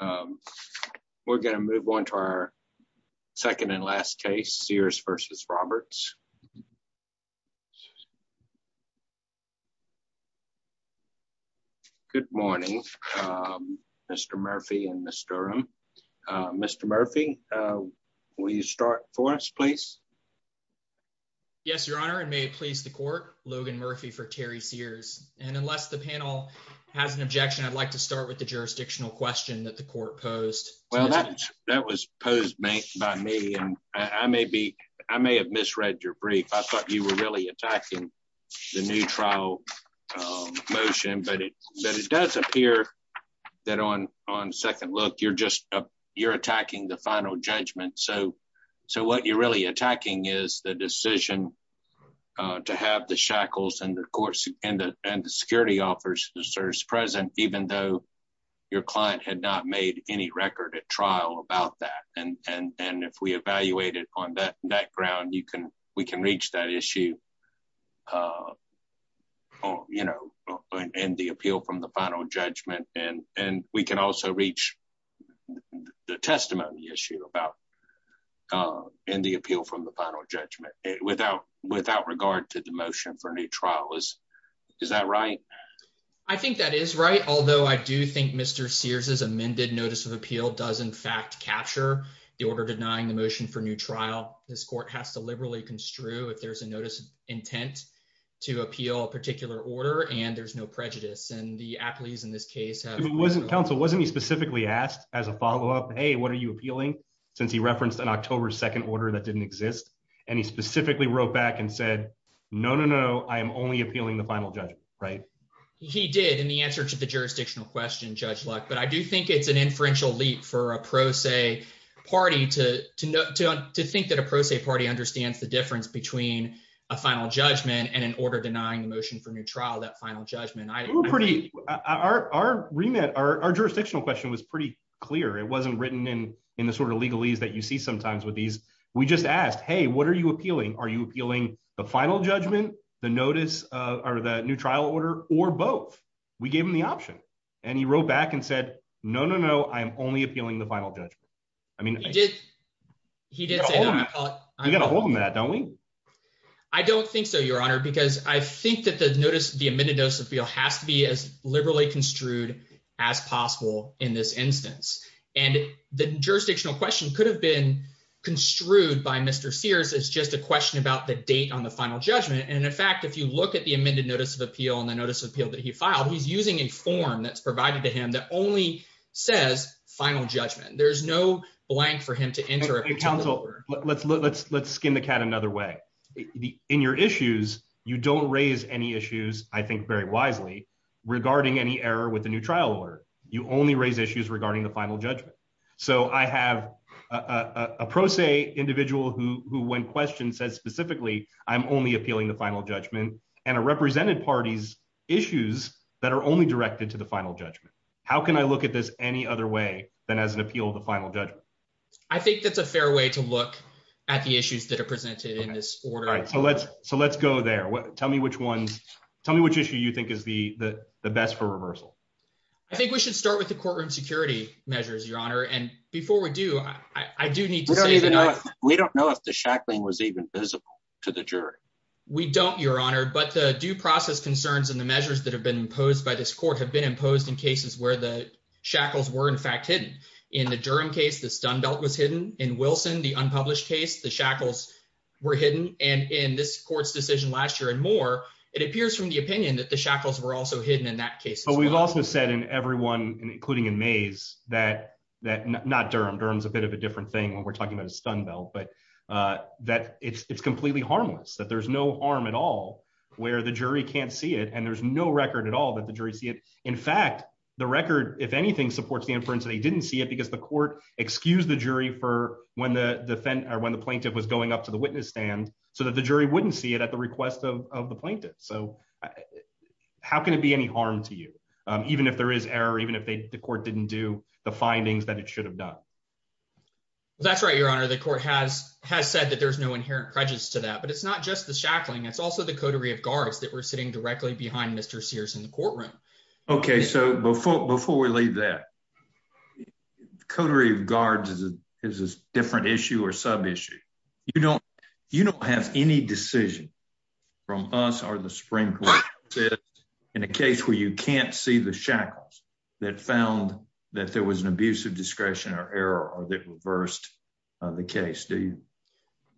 Um, we're gonna move on to our second and last case. Sears versus Roberts. Good morning. Um, Mr Murphy and Mr Um, Mr Murphy, uh, will you start for us, please? Yes, Your Honor. And may it please the court. Logan Murphy for Terry Sears. And unless the panel has an objection, I'd like to start with the jurisdictional question that the court posed. Well, that that was posed by me. And I may be I may have misread your brief. I thought you were really attacking the new trial motion. But it does appear that on on second look, you're just you're attacking the final judgment. So So what you're really attacking is the decision to have the shackles and the courts and the and serves present, even though your client had not made any record at trial about that. And and and if we evaluated on that that ground, you can we can reach that issue. Uh, you know, and the appeal from the final judgment and and we can also reach the testimony issue about, uh, in the appeal from the final judgment without without regard to the motion for any trial is. Is that right? I think that is right. Although I do think Mr Sears is amended. Notice of appeal does, in fact, capture the order denying the motion for new trial. This court has to liberally construe if there's a notice intent to appeal a particular order, and there's no prejudice and the athletes in this case have wasn't counsel. Wasn't he specifically asked as a follow up? Hey, what are you appealing? Since he referenced an October 2nd order that didn't exist, and he specifically wrote back and said, No, no, no, I'm only appealing the final judgment, right? He did. And the answer to the jurisdictional question, Judge Luck. But I do think it's an inferential leap for a pro se party to think that a pro se party understands the difference between a final judgment and an order denying the motion for new trial. That final judgment. I were pretty are remit. Our jurisdictional question was pretty clear. It wasn't written in in the sort of legalese that you see sometimes with these. We just asked, Hey, what are you appealing? Are you appealing the final judgment, the notice or the new trial order or both? We gave him the option, and he wrote back and said, No, no, no, I'm only appealing the final judgment. I mean, he did. He did. You gotta hold on that, don't we? I don't think so, Your Honor, because I think that the notice of the amended dose of feel has to be as liberally construed as possible in this instance, and the jurisdictional question could have been construed by Mr Sears. It's just a question about the date on the final judgment. And in fact, if you look at the amended notice of appeal on the notice of appeal that he filed, he's using a form that's provided to him that only says final judgment. There's no blank for him to enter a council. Let's let's let's skin the cat another way in your issues. You don't raise any issues, I think very wisely regarding any error with the new trial order. You only raise issues regarding the final judgment. So I have a pro se individual who when question says specifically, I'm only appealing the final judgment and a represented parties issues that are only directed to the final judgment. How can I look at this any other way than as an appeal of the final judgment? I think that's a fair way to look at the issues that are presented in this order. So let's so let's go there. Tell me which ones. Tell me which issue you think is the best for reversal. I think we should start with the courtroom security measures, your honor. And before we do, I do need to say that we don't know if the shackling was even visible to the jury. We don't, your honor. But the due process concerns in the measures that have been imposed by this court have been imposed in cases where the shackles were in fact hidden in the Durham case. The stun belt was hidden in Wilson, the unpublished case. The shackles were hidden. And in this court's decision last year and more, it appears from the opinion that the shackles were also hidden in that case. But we've also said in everyone, including in Mays, that that not Durham Durham is a bit of a different thing when we're talking about a stun belt, but that it's completely harmless, that there's no harm at all, where the jury can't see it. And there's no record at all that the jury see it. In fact, the record, if anything supports the inference, they didn't see it because the court excused the jury for when the defendant or when the plaintiff was going up to the witness stand so that the jury wouldn't see it at the request of the plaintiff. So how can it be any harm to you, even if there is error, even if the court didn't do the findings that it should have done? That's right, Your Honor, the court has has said that there's no inherent prejudice to that. But it's not just the shackling. It's also the coterie of guards that were sitting directly behind Mr. Sears in the courtroom. Okay, so before before we leave that coterie of guards is a different issue or sub issue. You don't you don't have any decision from us or the sprinkler in a case where you can't see the shackles that found that there was an abuse of discretion or error or that reversed the case. Do you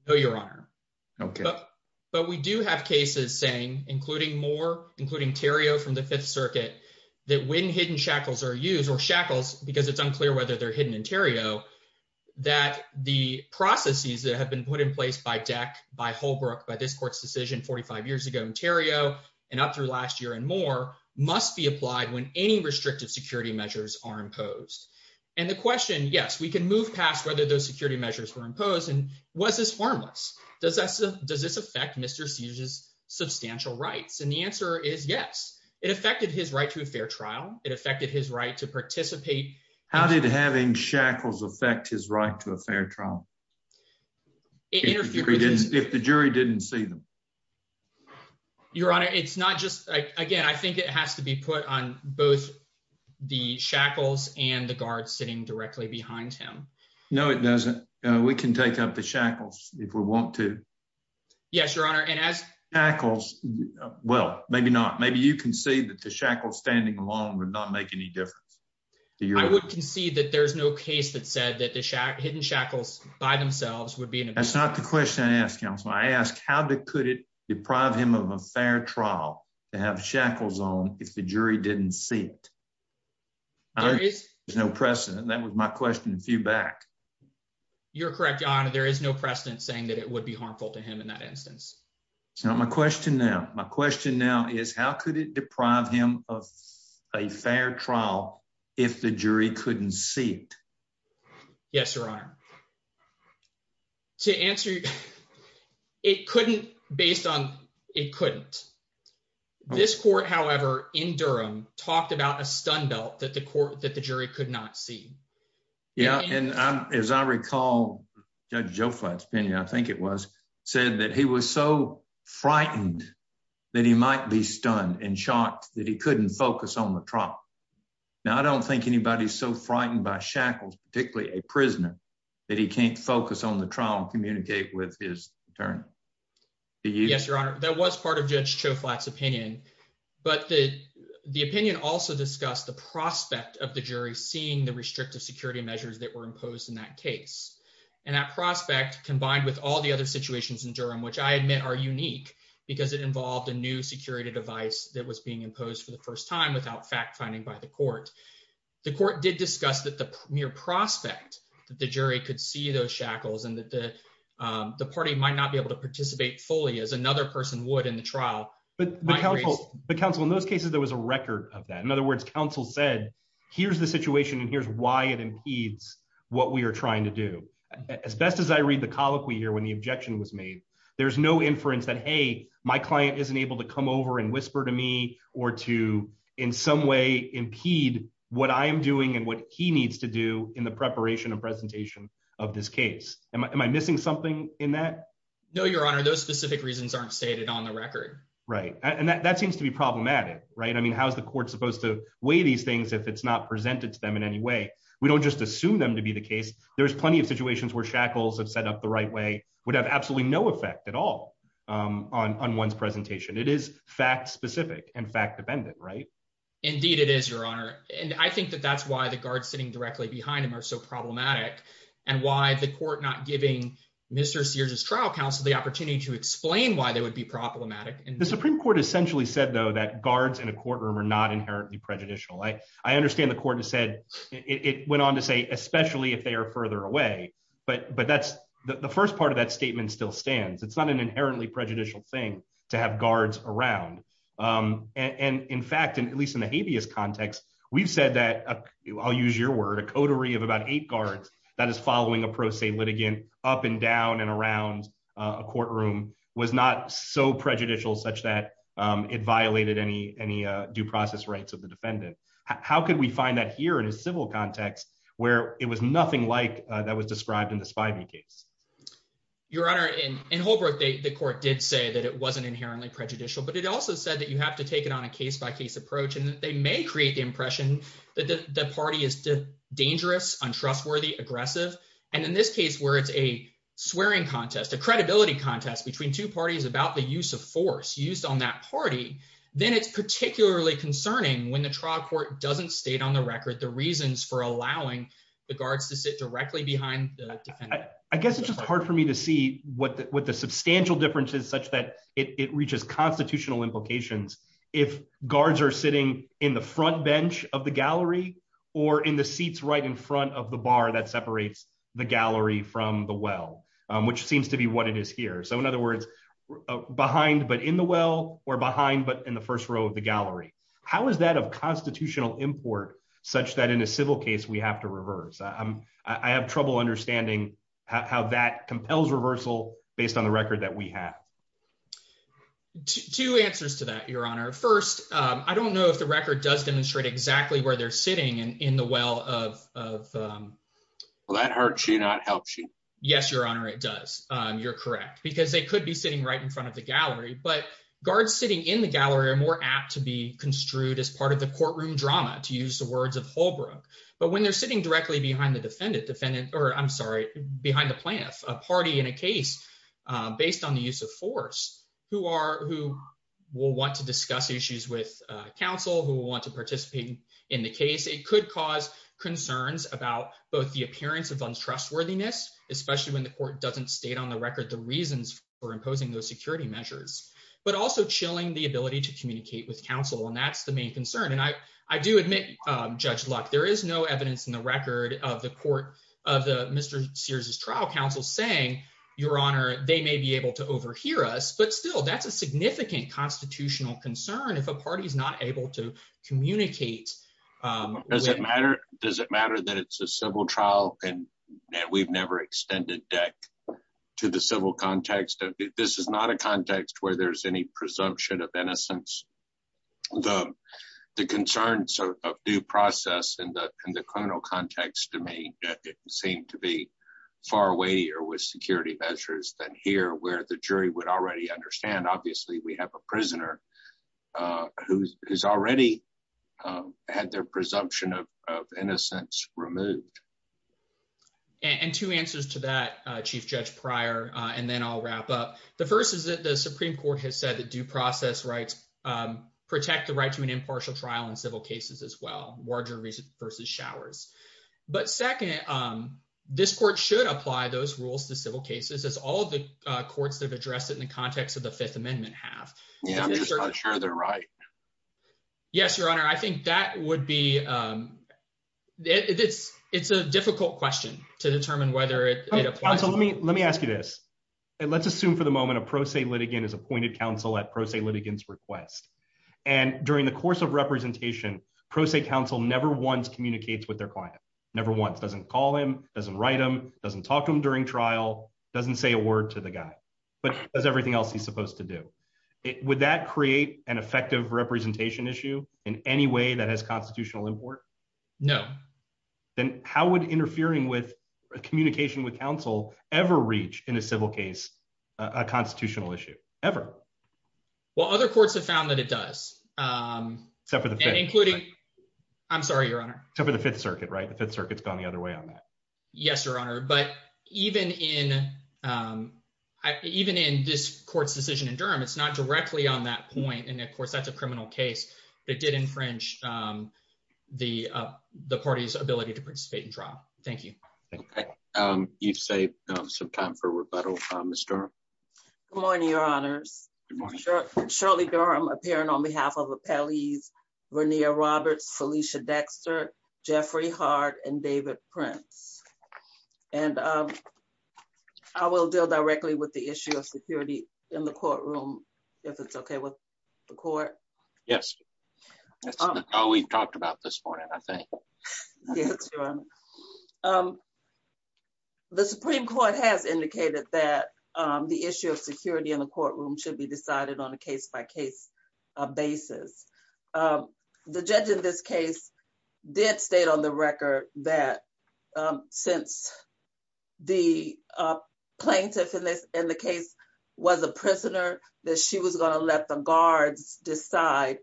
know your honor? Okay, but we do have cases saying, including more, including Terry O. From the Fifth Circuit, that when hidden shackles are used or shackles because it's unclear whether they're hidden interior, that the processes that have been put in place by deck by Holbrook by this court's decision 45 years ago, Ontario and up through last year and more must be applied when any restrictive security measures are imposed. And the question Yes, we can move past whether those security measures were imposed. And was this harmless? Does that does this affect Mr Sears is substantial rights? And the answer is yes, it affected his right to a fair trial. It affected his right to participate. How did having shackles affect his right to a fair trial? It interfered. If the jury didn't see them, your honor, it's not just again. I think it has to be put on both the shackles and the guard sitting directly behind him. No, it doesn't. We can take up the shackles if we want to. Yes, your honor. And as tackles well, maybe not. Maybe you can see that the shackles standing along would not make any difference. I would concede that there's no case that said that the hidden shackles by themselves would be. That's not the question. I asked Council. I asked how could it deprive him of a fair trial to have shackles on if the jury didn't see it? There is no precedent. That was my question. A few back. You're correct, your honor. There is no precedent saying that it would be harmful to him in that instance. So my question now, my question now is how could it deprive him of a fair trial if the jury couldn't see it? Yes, your honor. To answer you, it couldn't based on it couldn't. This court, however, in Durham talked about a stun belt that the court that the jury could not see. Yeah. And as I recall, Judge Joe Flats Penny, I think it was said that he was so frightened that he might be stunned and shocked that he couldn't focus on the trial. Now, I don't think anybody is so frightened by shackles, particularly a prisoner that he can't focus on the trial and communicate with his attorney. Yes, your honor. That was part of Judge Joe Flats opinion. But the opinion also discussed the prospect of the jury seeing the restrictive security measures that were imposed in that case. And that prospect, combined with all the other situations in Durham, which I admit are unique because it involved a new security device that was being imposed for the first time without fact finding by the court. The court did discuss that the mere prospect that the jury could see those shackles and that the party might not be able to participate fully as another person would in the trial. But the counsel, the counsel in those cases, there was a record of that. In other words, counsel said, here's the situation and here's why it impedes what we are trying to do. As best as I read the colloquy here, when the objection was made, there's no inference that, hey, my client isn't able to come over and whisper to me or to in some way impede what I am doing and what he needs to do in the preparation and presentation of this case. Am I missing something in that? No, your honor. Those specific reasons aren't stated on the record, right? And that seems to be problematic, right? I mean, how is the court supposed to weigh these things if it's not presented to them in any way? We don't just assume them to be the case. There's plenty of situations where shackles have set up the right way would have absolutely no effect at all on one's presentation. It is fact specific and fact dependent, right? Indeed, it is, your honor. And I think that that's why the guards sitting directly behind him are so problematic and why the court not giving Mr. Sears's trial counsel the opportunity to explain why they would be problematic. The Supreme Court essentially said, though, that guards in a courtroom are not inherently prejudicial. I understand the court has said it went on to say, especially if they are further away. But but that's the first part of that statement still stands. It's not an inherently prejudicial thing to have guards around. And in fact, at least in the habeas context, we've said that I'll use your word a coterie of about eight guards that is following a pro se litigant up and down and around a courtroom was not so prejudicial such that it violated any any due process rights of the defendant. How could we find that here in a civil context where it was nothing like that was described in the spiving case? Your honor, in Holbrook, the court did say that it wasn't inherently prejudicial, but it also said that you have to take it on a case by case approach, and they may create the impression that the party is dangerous, untrustworthy, aggressive. And in this case, where it's a swearing contest, a credibility contest between two parties about the use of force used on that party, then it's particularly concerning when the trial court doesn't state on the record the reasons for allowing the guards to sit directly behind the defendant. I guess it's just hard for me to see what the what the substantial differences such that it reaches constitutional implications if guards are sitting in the front bench of the gallery, or in the seats right in front of the bar that separates the gallery from the well, which seems to be what it is here. So in other words, behind but in the well, or behind but in the first row of the gallery. How is that of constitutional import such that in a civil case we have to reverse? I have trouble understanding how that compels reversal based on the record that we have. Two answers to that, your honor. First, I don't know if the record does demonstrate exactly where they're sitting and in the well of... Well, that hurts you, not helps you. Yes, your honor, it does. You're correct, because they could be sitting right in front of the gallery, but guards sitting in the gallery are more apt to be construed as part of the courtroom drama, to use the words of Holbrooke. But when they're sitting directly behind the defendant, defendant, or I'm sorry, behind the plaintiff, a party in a case based on the use of force, who are, who will want to discuss issues with counsel, who will want to participate in the case, it could cause concerns about both the appearance of untrustworthiness, especially when the court doesn't state on the record the reasons for imposing those security measures, but also chilling the ability to communicate with counsel, and that's the main concern. And I do admit, Judge Luck, there is no evidence in the record of the court of the Mr. Sears' trial counsel saying, your honor, they may be able to overhear us. But still, that's a significant constitutional concern if a party is not able to communicate. Does it matter? Does it matter that it's a civil trial and that we've never extended DEC to the civil context? This is not a context where there's any presumption of innocence. The concerns of due process in the criminal context to me seem to be far weightier with security measures than here, where the jury would already understand. Obviously, we have a prisoner who has already had their presumption of innocence removed. And two answers to that, Chief Judge Pryor, and then I'll wrap up. The first is that the Supreme Court has said that due process rights protect the right to an impartial trial in civil cases as well, larger versus showers. But second, this court should apply those rules to civil cases, as all the courts that have been in the context of the Fifth Amendment have. Yeah, I'm just not sure they're right. Yes, your honor, I think that would be, it's a difficult question to determine whether it applies. Let me ask you this. Let's assume for the moment a pro se litigant is appointed counsel at pro se litigants request. And during the course of representation, pro se counsel never once communicates with their client. Never once. Doesn't call him, doesn't write him, doesn't talk to him during trial, doesn't say a word to the guy, but does everything else he's supposed to do. Would that create an effective representation issue in any way that has constitutional import? No. Then how would interfering with communication with counsel ever reach in a civil case, a constitutional issue ever? Well, other courts have found that it does. Except for the fifth. Including, I'm sorry, your honor. Except for the Fifth Circuit, right? The Fifth Circuit's gone the other way on that. Yes, your honor. But even in, even in this court's decision in Durham, it's not directly on that point. And of course, that's a criminal case. But it did infringe the party's ability to participate in trial. Thank you. You've saved some time for rebuttal, Ms. Durham. Good morning, your honors. Shirley Durham appearing on behalf of appellees Vernia Roberts, Felicia Dexter, Jeffrey Hart and David Prince. And I will deal directly with the issue of security in the courtroom, if it's okay with the court. Yes. That's all we've talked about this morning, I think. Yes, your honor. The Supreme Court has indicated that the issue of security in the courtroom should be decided on a case by case basis. The judge in this the plaintiff in this in the case was a prisoner that she was going to let the guards decide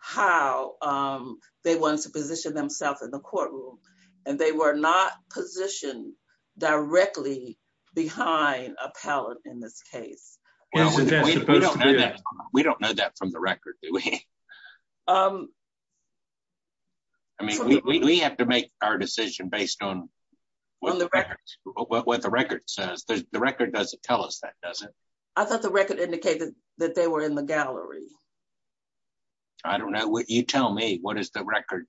how they want to position themselves in the courtroom. And they were not positioned directly behind a pallet in this case. We don't know that from the record. Do we? I mean, we have to make our decision based on what the record says. The record doesn't tell us that, does it? I thought the record indicated that they were in the gallery. I don't know what you tell me what is the record?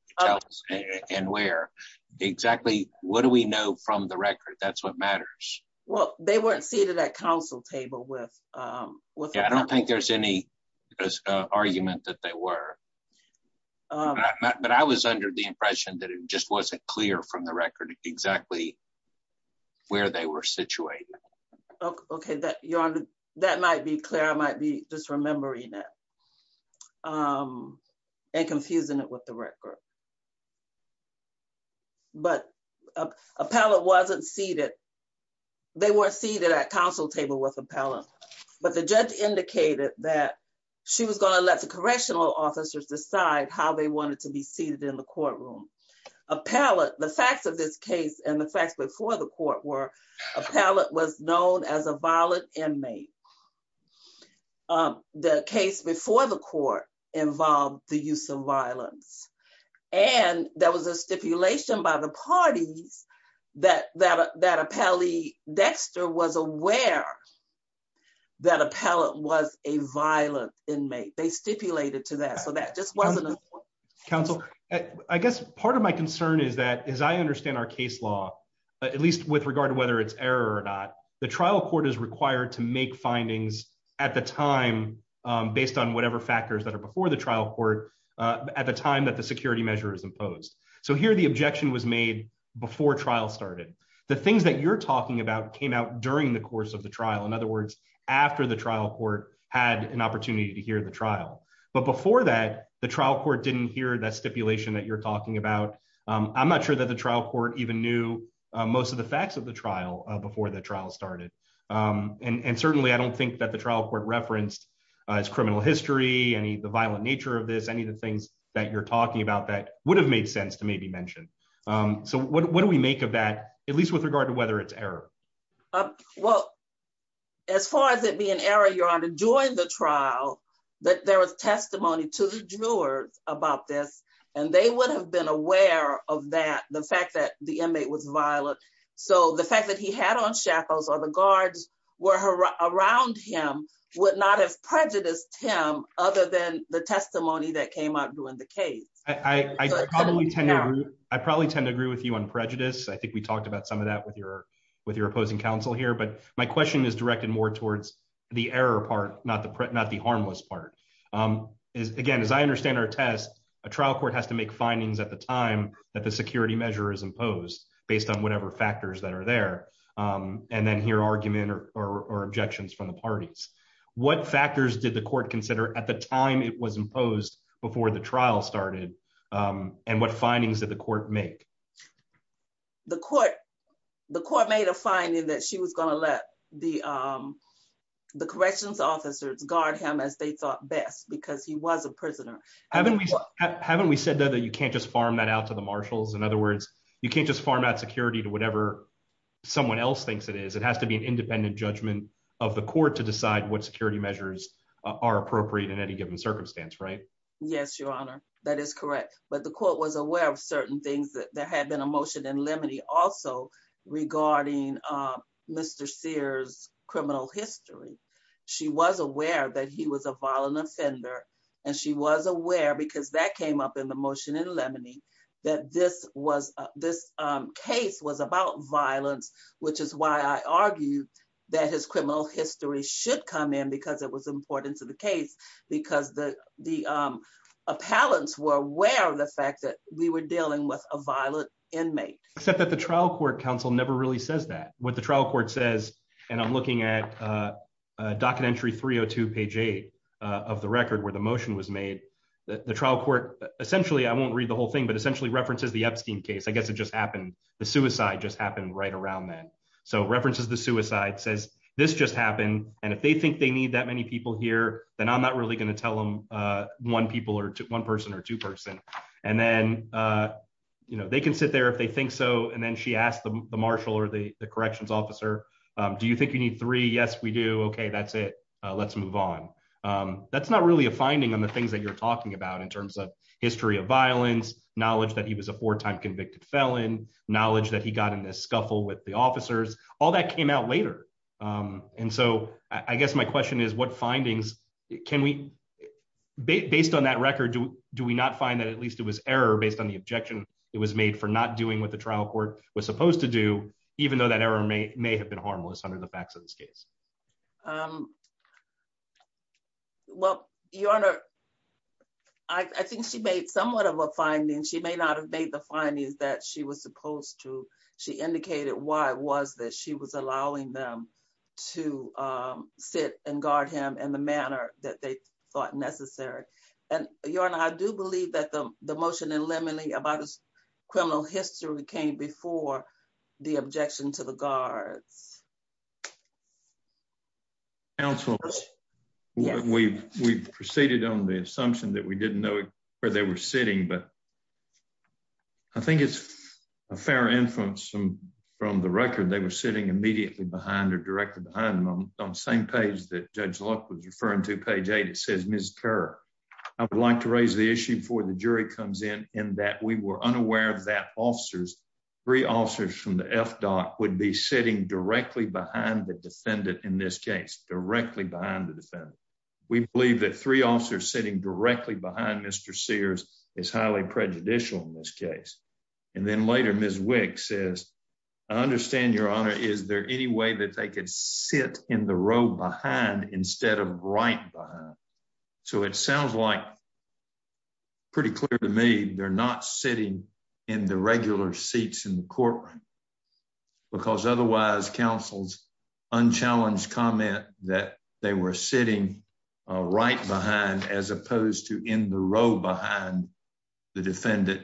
And where exactly? What do we know from the record? That's what matters. Well, they weren't seated at council table with I don't think there's any argument that they were. But I was under the impression that it just wasn't clear from the record exactly where they were situated. Okay, that your honor, that might be clear. I might be just remembering that. And confusing it with the record. But a pallet wasn't seated. They were seated at council table with a pallet. But the judge indicated that she was going to let the correctional officers decide how they wanted to be seated in the courtroom. A pallet, the facts of this case and the facts before the court were a pallet was known as a violent inmate. The case before the court involved the use of violence. And there was a that a pallet was a violent inmate, they stipulated to that. So that just wasn't a counsel. I guess part of my concern is that as I understand our case law, at least with regard to whether it's error or not, the trial court is required to make findings at the time, based on whatever factors that are before the trial court at the time that the security measure is imposed. So here, the objection was made before trial started. The things that you're talking about came out during the course of the trial. In other words, after the trial court had an opportunity to hear the trial. But before that, the trial court didn't hear that stipulation that you're talking about. I'm not sure that the trial court even knew most of the facts of the trial before the trial started. And certainly, I don't think that the trial court referenced as criminal history and the violent nature of this any of the things that you're talking about that would have made sense to maybe mentioned. So what do we make of that, at least with regard to whether it's error? Well, as far as it being error, you're on to join the trial, that there was testimony to the jurors about this, and they would have been aware of that the fact that the inmate was violent. So the fact that he had on shackles or the guards were her around him would not have prejudiced him other than the testimony that came out during the case. I probably tend to I probably tend to agree with you on prejudice. I think we talked about some of that with your with your opposing counsel here. But my question is directed more towards the error part, not the not the harmless part. Again, as I understand our test, a trial court has to make findings at the time that the security measure is imposed based on whatever factors that are there. And then hear argument or objections from the parties. What factors did the court consider at the time it was imposed before the trial started? And what findings that the court make? The court, the court made a finding that she was going to let the the corrections officers guard him as they thought best because he was a prisoner. Haven't we haven't we said that you can't just farm that out to the marshals. In other words, you can't just farm out security to whatever someone else thinks it is, it has to be an independent judgment of the court to decide what security measures are appropriate in any given circumstance, right? Yes, Your Honor, that is correct. But the court was aware of certain things that there had been a motion in Lemony also regarding Mr. Sears criminal history. She was aware that he was a violent offender. And she was aware because that came up in the motion in Lemony, that this was this case was about violence, which is why I argue that his criminal history should come in because it was important to the case, because the the appellants were aware of the fact that we were dealing with a violent inmate, except that the trial court counsel never really says that what the trial court says, and I'm looking at docket entry 302, page eight of the record where the motion was made, the trial court, essentially, I won't read the whole thing, but essentially references the Epstein case, I guess it just happened, the suicide just happened right around that. So references, the suicide says, this just happened. And if they think they need that many people here, then I'm not really going to tell them one people or one person or two person. And then, you know, they can sit there if they think so. And then she asked the marshal or the corrections officer, do you think you need three? Yes, we do. Okay, that's it. Let's move on. That's not really a finding on the things that you're talking about in terms of history of violence, knowledge that he was a four time convicted felon, knowledge that he got in this scuffle with the officers, all that came out later. And so I guess my question is what findings can we based on that record, do we not find that at least it was error based on the objection, it was made for not doing what the trial court was supposed to do, even though that error may may have been harmless under the facts of this case? Well, your honor, I think she made somewhat of a finding, she may not have made the findings that she was supposed to, she indicated why was that she was allowing them to sit and guard him in the manner that they thought necessary. And your honor, I do believe that the the motion in limine about his criminal history came before the objection to the guards. Council, we've we've proceeded on the assumption that we didn't know where they were sitting. But I think it's a fair influence from from the record, they were sitting immediately behind or directly behind them on the same page that Judge Luck was referring to page eight, it says, Miss Kerr, I would like to raise the issue before the jury comes in, in that we were unaware of that officers, three officers from the FDOT would be sitting directly behind the defendant in this case directly behind the defendant. We believe that three officers sitting directly behind Mr. Sears is highly prejudicial in this case. And then later, Miss Wick says, I understand your honor, is there any way that they could sit in the row behind instead of right behind? So it sounds like pretty clear to me, they're not sitting in the regular seats in the courtroom. Because otherwise, counsel's unchallenged comment that they were sitting right behind as opposed to in the row behind the defendant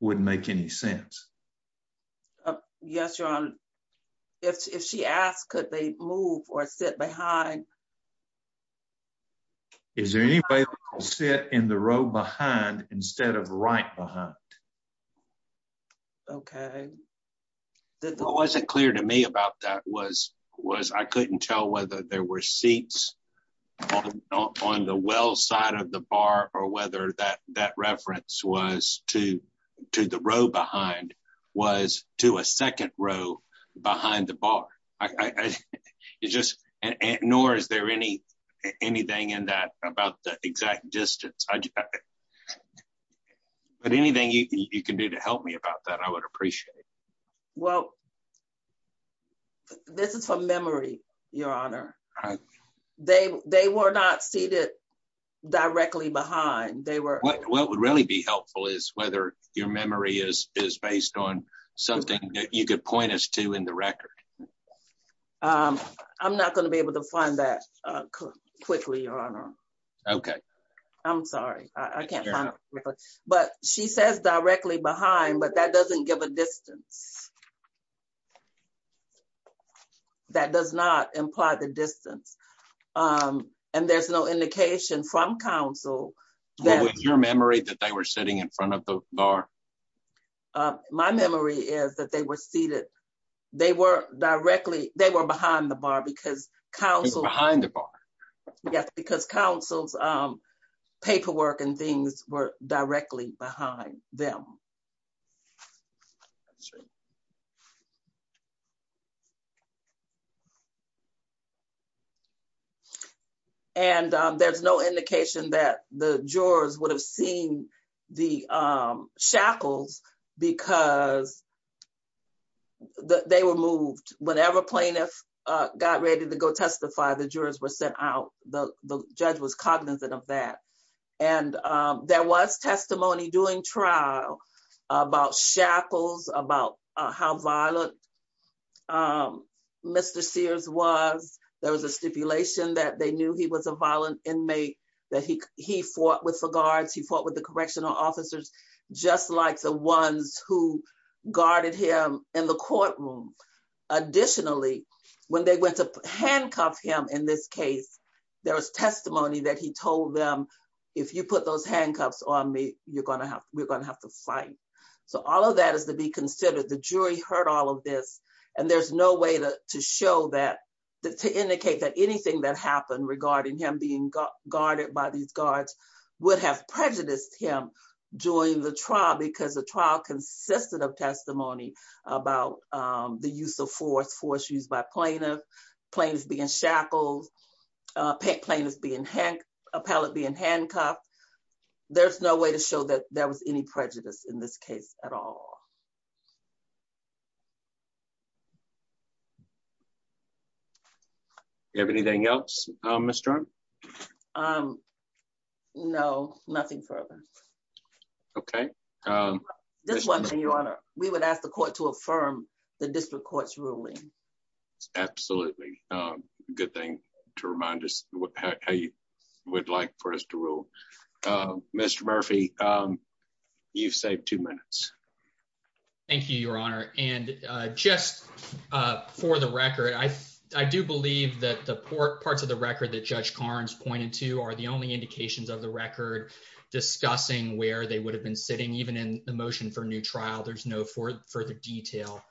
wouldn't make any sense. Yes, your honor. If she asked, could they move or sit behind? Is there any way to sit in the row behind instead of right behind? Okay, that wasn't clear to me about that was was I couldn't tell whether there were seats on the well side of the bar or whether that that reference was to to the row behind was to a second row behind the bar. I just ignore Is there any anything in that about the exact distance? But anything you can do to help me about that? I would appreciate it. So this is from memory, your honor. They they were not seated directly behind they were what would really be helpful is whether your memory is is based on something that you could point us to in the record. I'm not going to be able to find that quickly, your honor. Okay. I'm sorry. I can't. But she says directly behind but that doesn't give a distance. Okay. That does not imply the distance. Um, and there's no indication from council that your memory that they were sitting in front of the bar. Uh, my memory is that they were seated. They were directly they were behind the bar because council behind the bar. Yes, because councils, um, paperwork and things were directly behind them. Sure. Yeah. And there's no indication that the jurors would have seen the shackles because they were moved whenever plaintiff got ready to go testify. The jurors were sent out. The judge was cognizant of that. And there was testimony doing trial about shackles about how violent Mr. Sears was, there was a stipulation that they knew he was a violent inmate that he he fought with the guards. He fought with the correctional officers, just like the ones who guarded him in the courtroom. Additionally, when they went to handcuff him in this case, there was testimony that he told them, if you put those handcuffs on me, you're gonna have we're gonna have to fight. So all that is to be considered the jury heard all of this. And there's no way to show that, to indicate that anything that happened regarding him being guarded by these guards would have prejudiced him during the trial because the trial consisted of testimony about the use of force, force used by plaintiff, plaintiff being shackled, plaintiff being, appellate being handcuffed. There's no way to show that there was any prejudice in this case at all. You have anything else, Mr? Um, no, nothing further. Okay. Um, this one thing your honor, we would ask the court to affirm the district court's ruling. Absolutely. Um, good thing to remind us how you would like for us to rule. Mr Murphy, um, you've saved two minutes. Thank you, Your Honor. And just for the record, I I do believe that the port parts of the record that Judge Carnes pointed to are the only indications of the record discussing where they would have been sitting. Even in the motion for new trial, there's no for further detail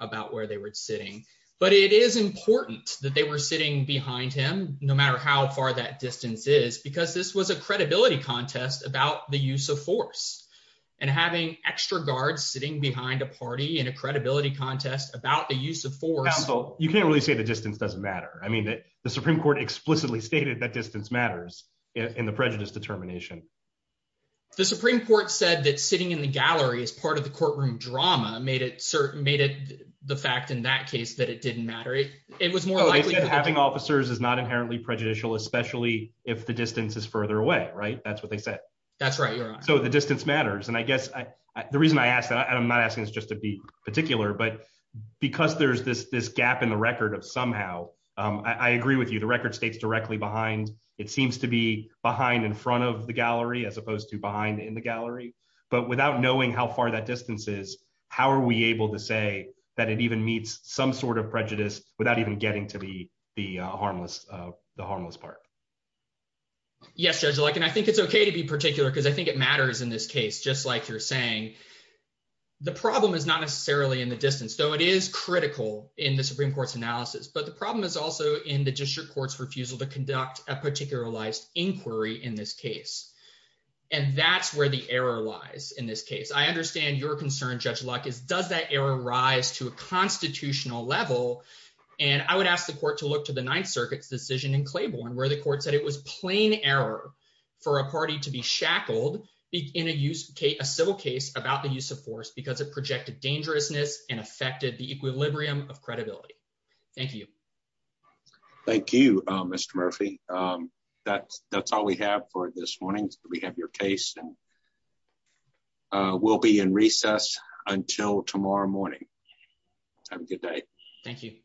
about where they were sitting. But it is important that they were sitting behind him, no matter how far that distance is, because this was a the use of force and having extra guards sitting behind a party in a credibility contest about the use of force. You can't really say the distance doesn't matter. I mean, the Supreme Court explicitly stated that distance matters in the prejudice determination. The Supreme Court said that sitting in the gallery is part of the courtroom drama made it certain made it the fact in that case that it didn't matter. It was more like having officers is not inherently prejudicial, especially if the distance is further away, right? That's what they said. That's right. So the distance matters. And I guess the reason I asked that I'm not asking is just to be particular, but because there's this this gap in the record of somehow I agree with you. The record states directly behind. It seems to be behind in front of the gallery as opposed to behind in the gallery. But without knowing how far that distance is, how are we able to say that it even meets some sort of prejudice without even getting to be the harmless the harmless part? Yes, Judge Luck, and I think it's OK to be particular because I think it matters in this case, just like you're saying. The problem is not necessarily in the distance, though it is critical in the Supreme Court's analysis. But the problem is also in the district court's refusal to conduct a particularized inquiry in this case. And that's where the error lies. In this case, I understand your concern, Judge Luck, is does that error rise to a constitutional level? And I would ask the court to look to the Ninth Circuit's decision in Claiborne, where the court said it was plain error for a party to be shackled in a use a civil case about the use of force because it projected dangerousness and affected the equilibrium of credibility. Thank you. Thank you, Mr Murphy. Um, that's that's all we have for this morning. We have your case and we'll be in recess until tomorrow morning. Have a good day. Thank you.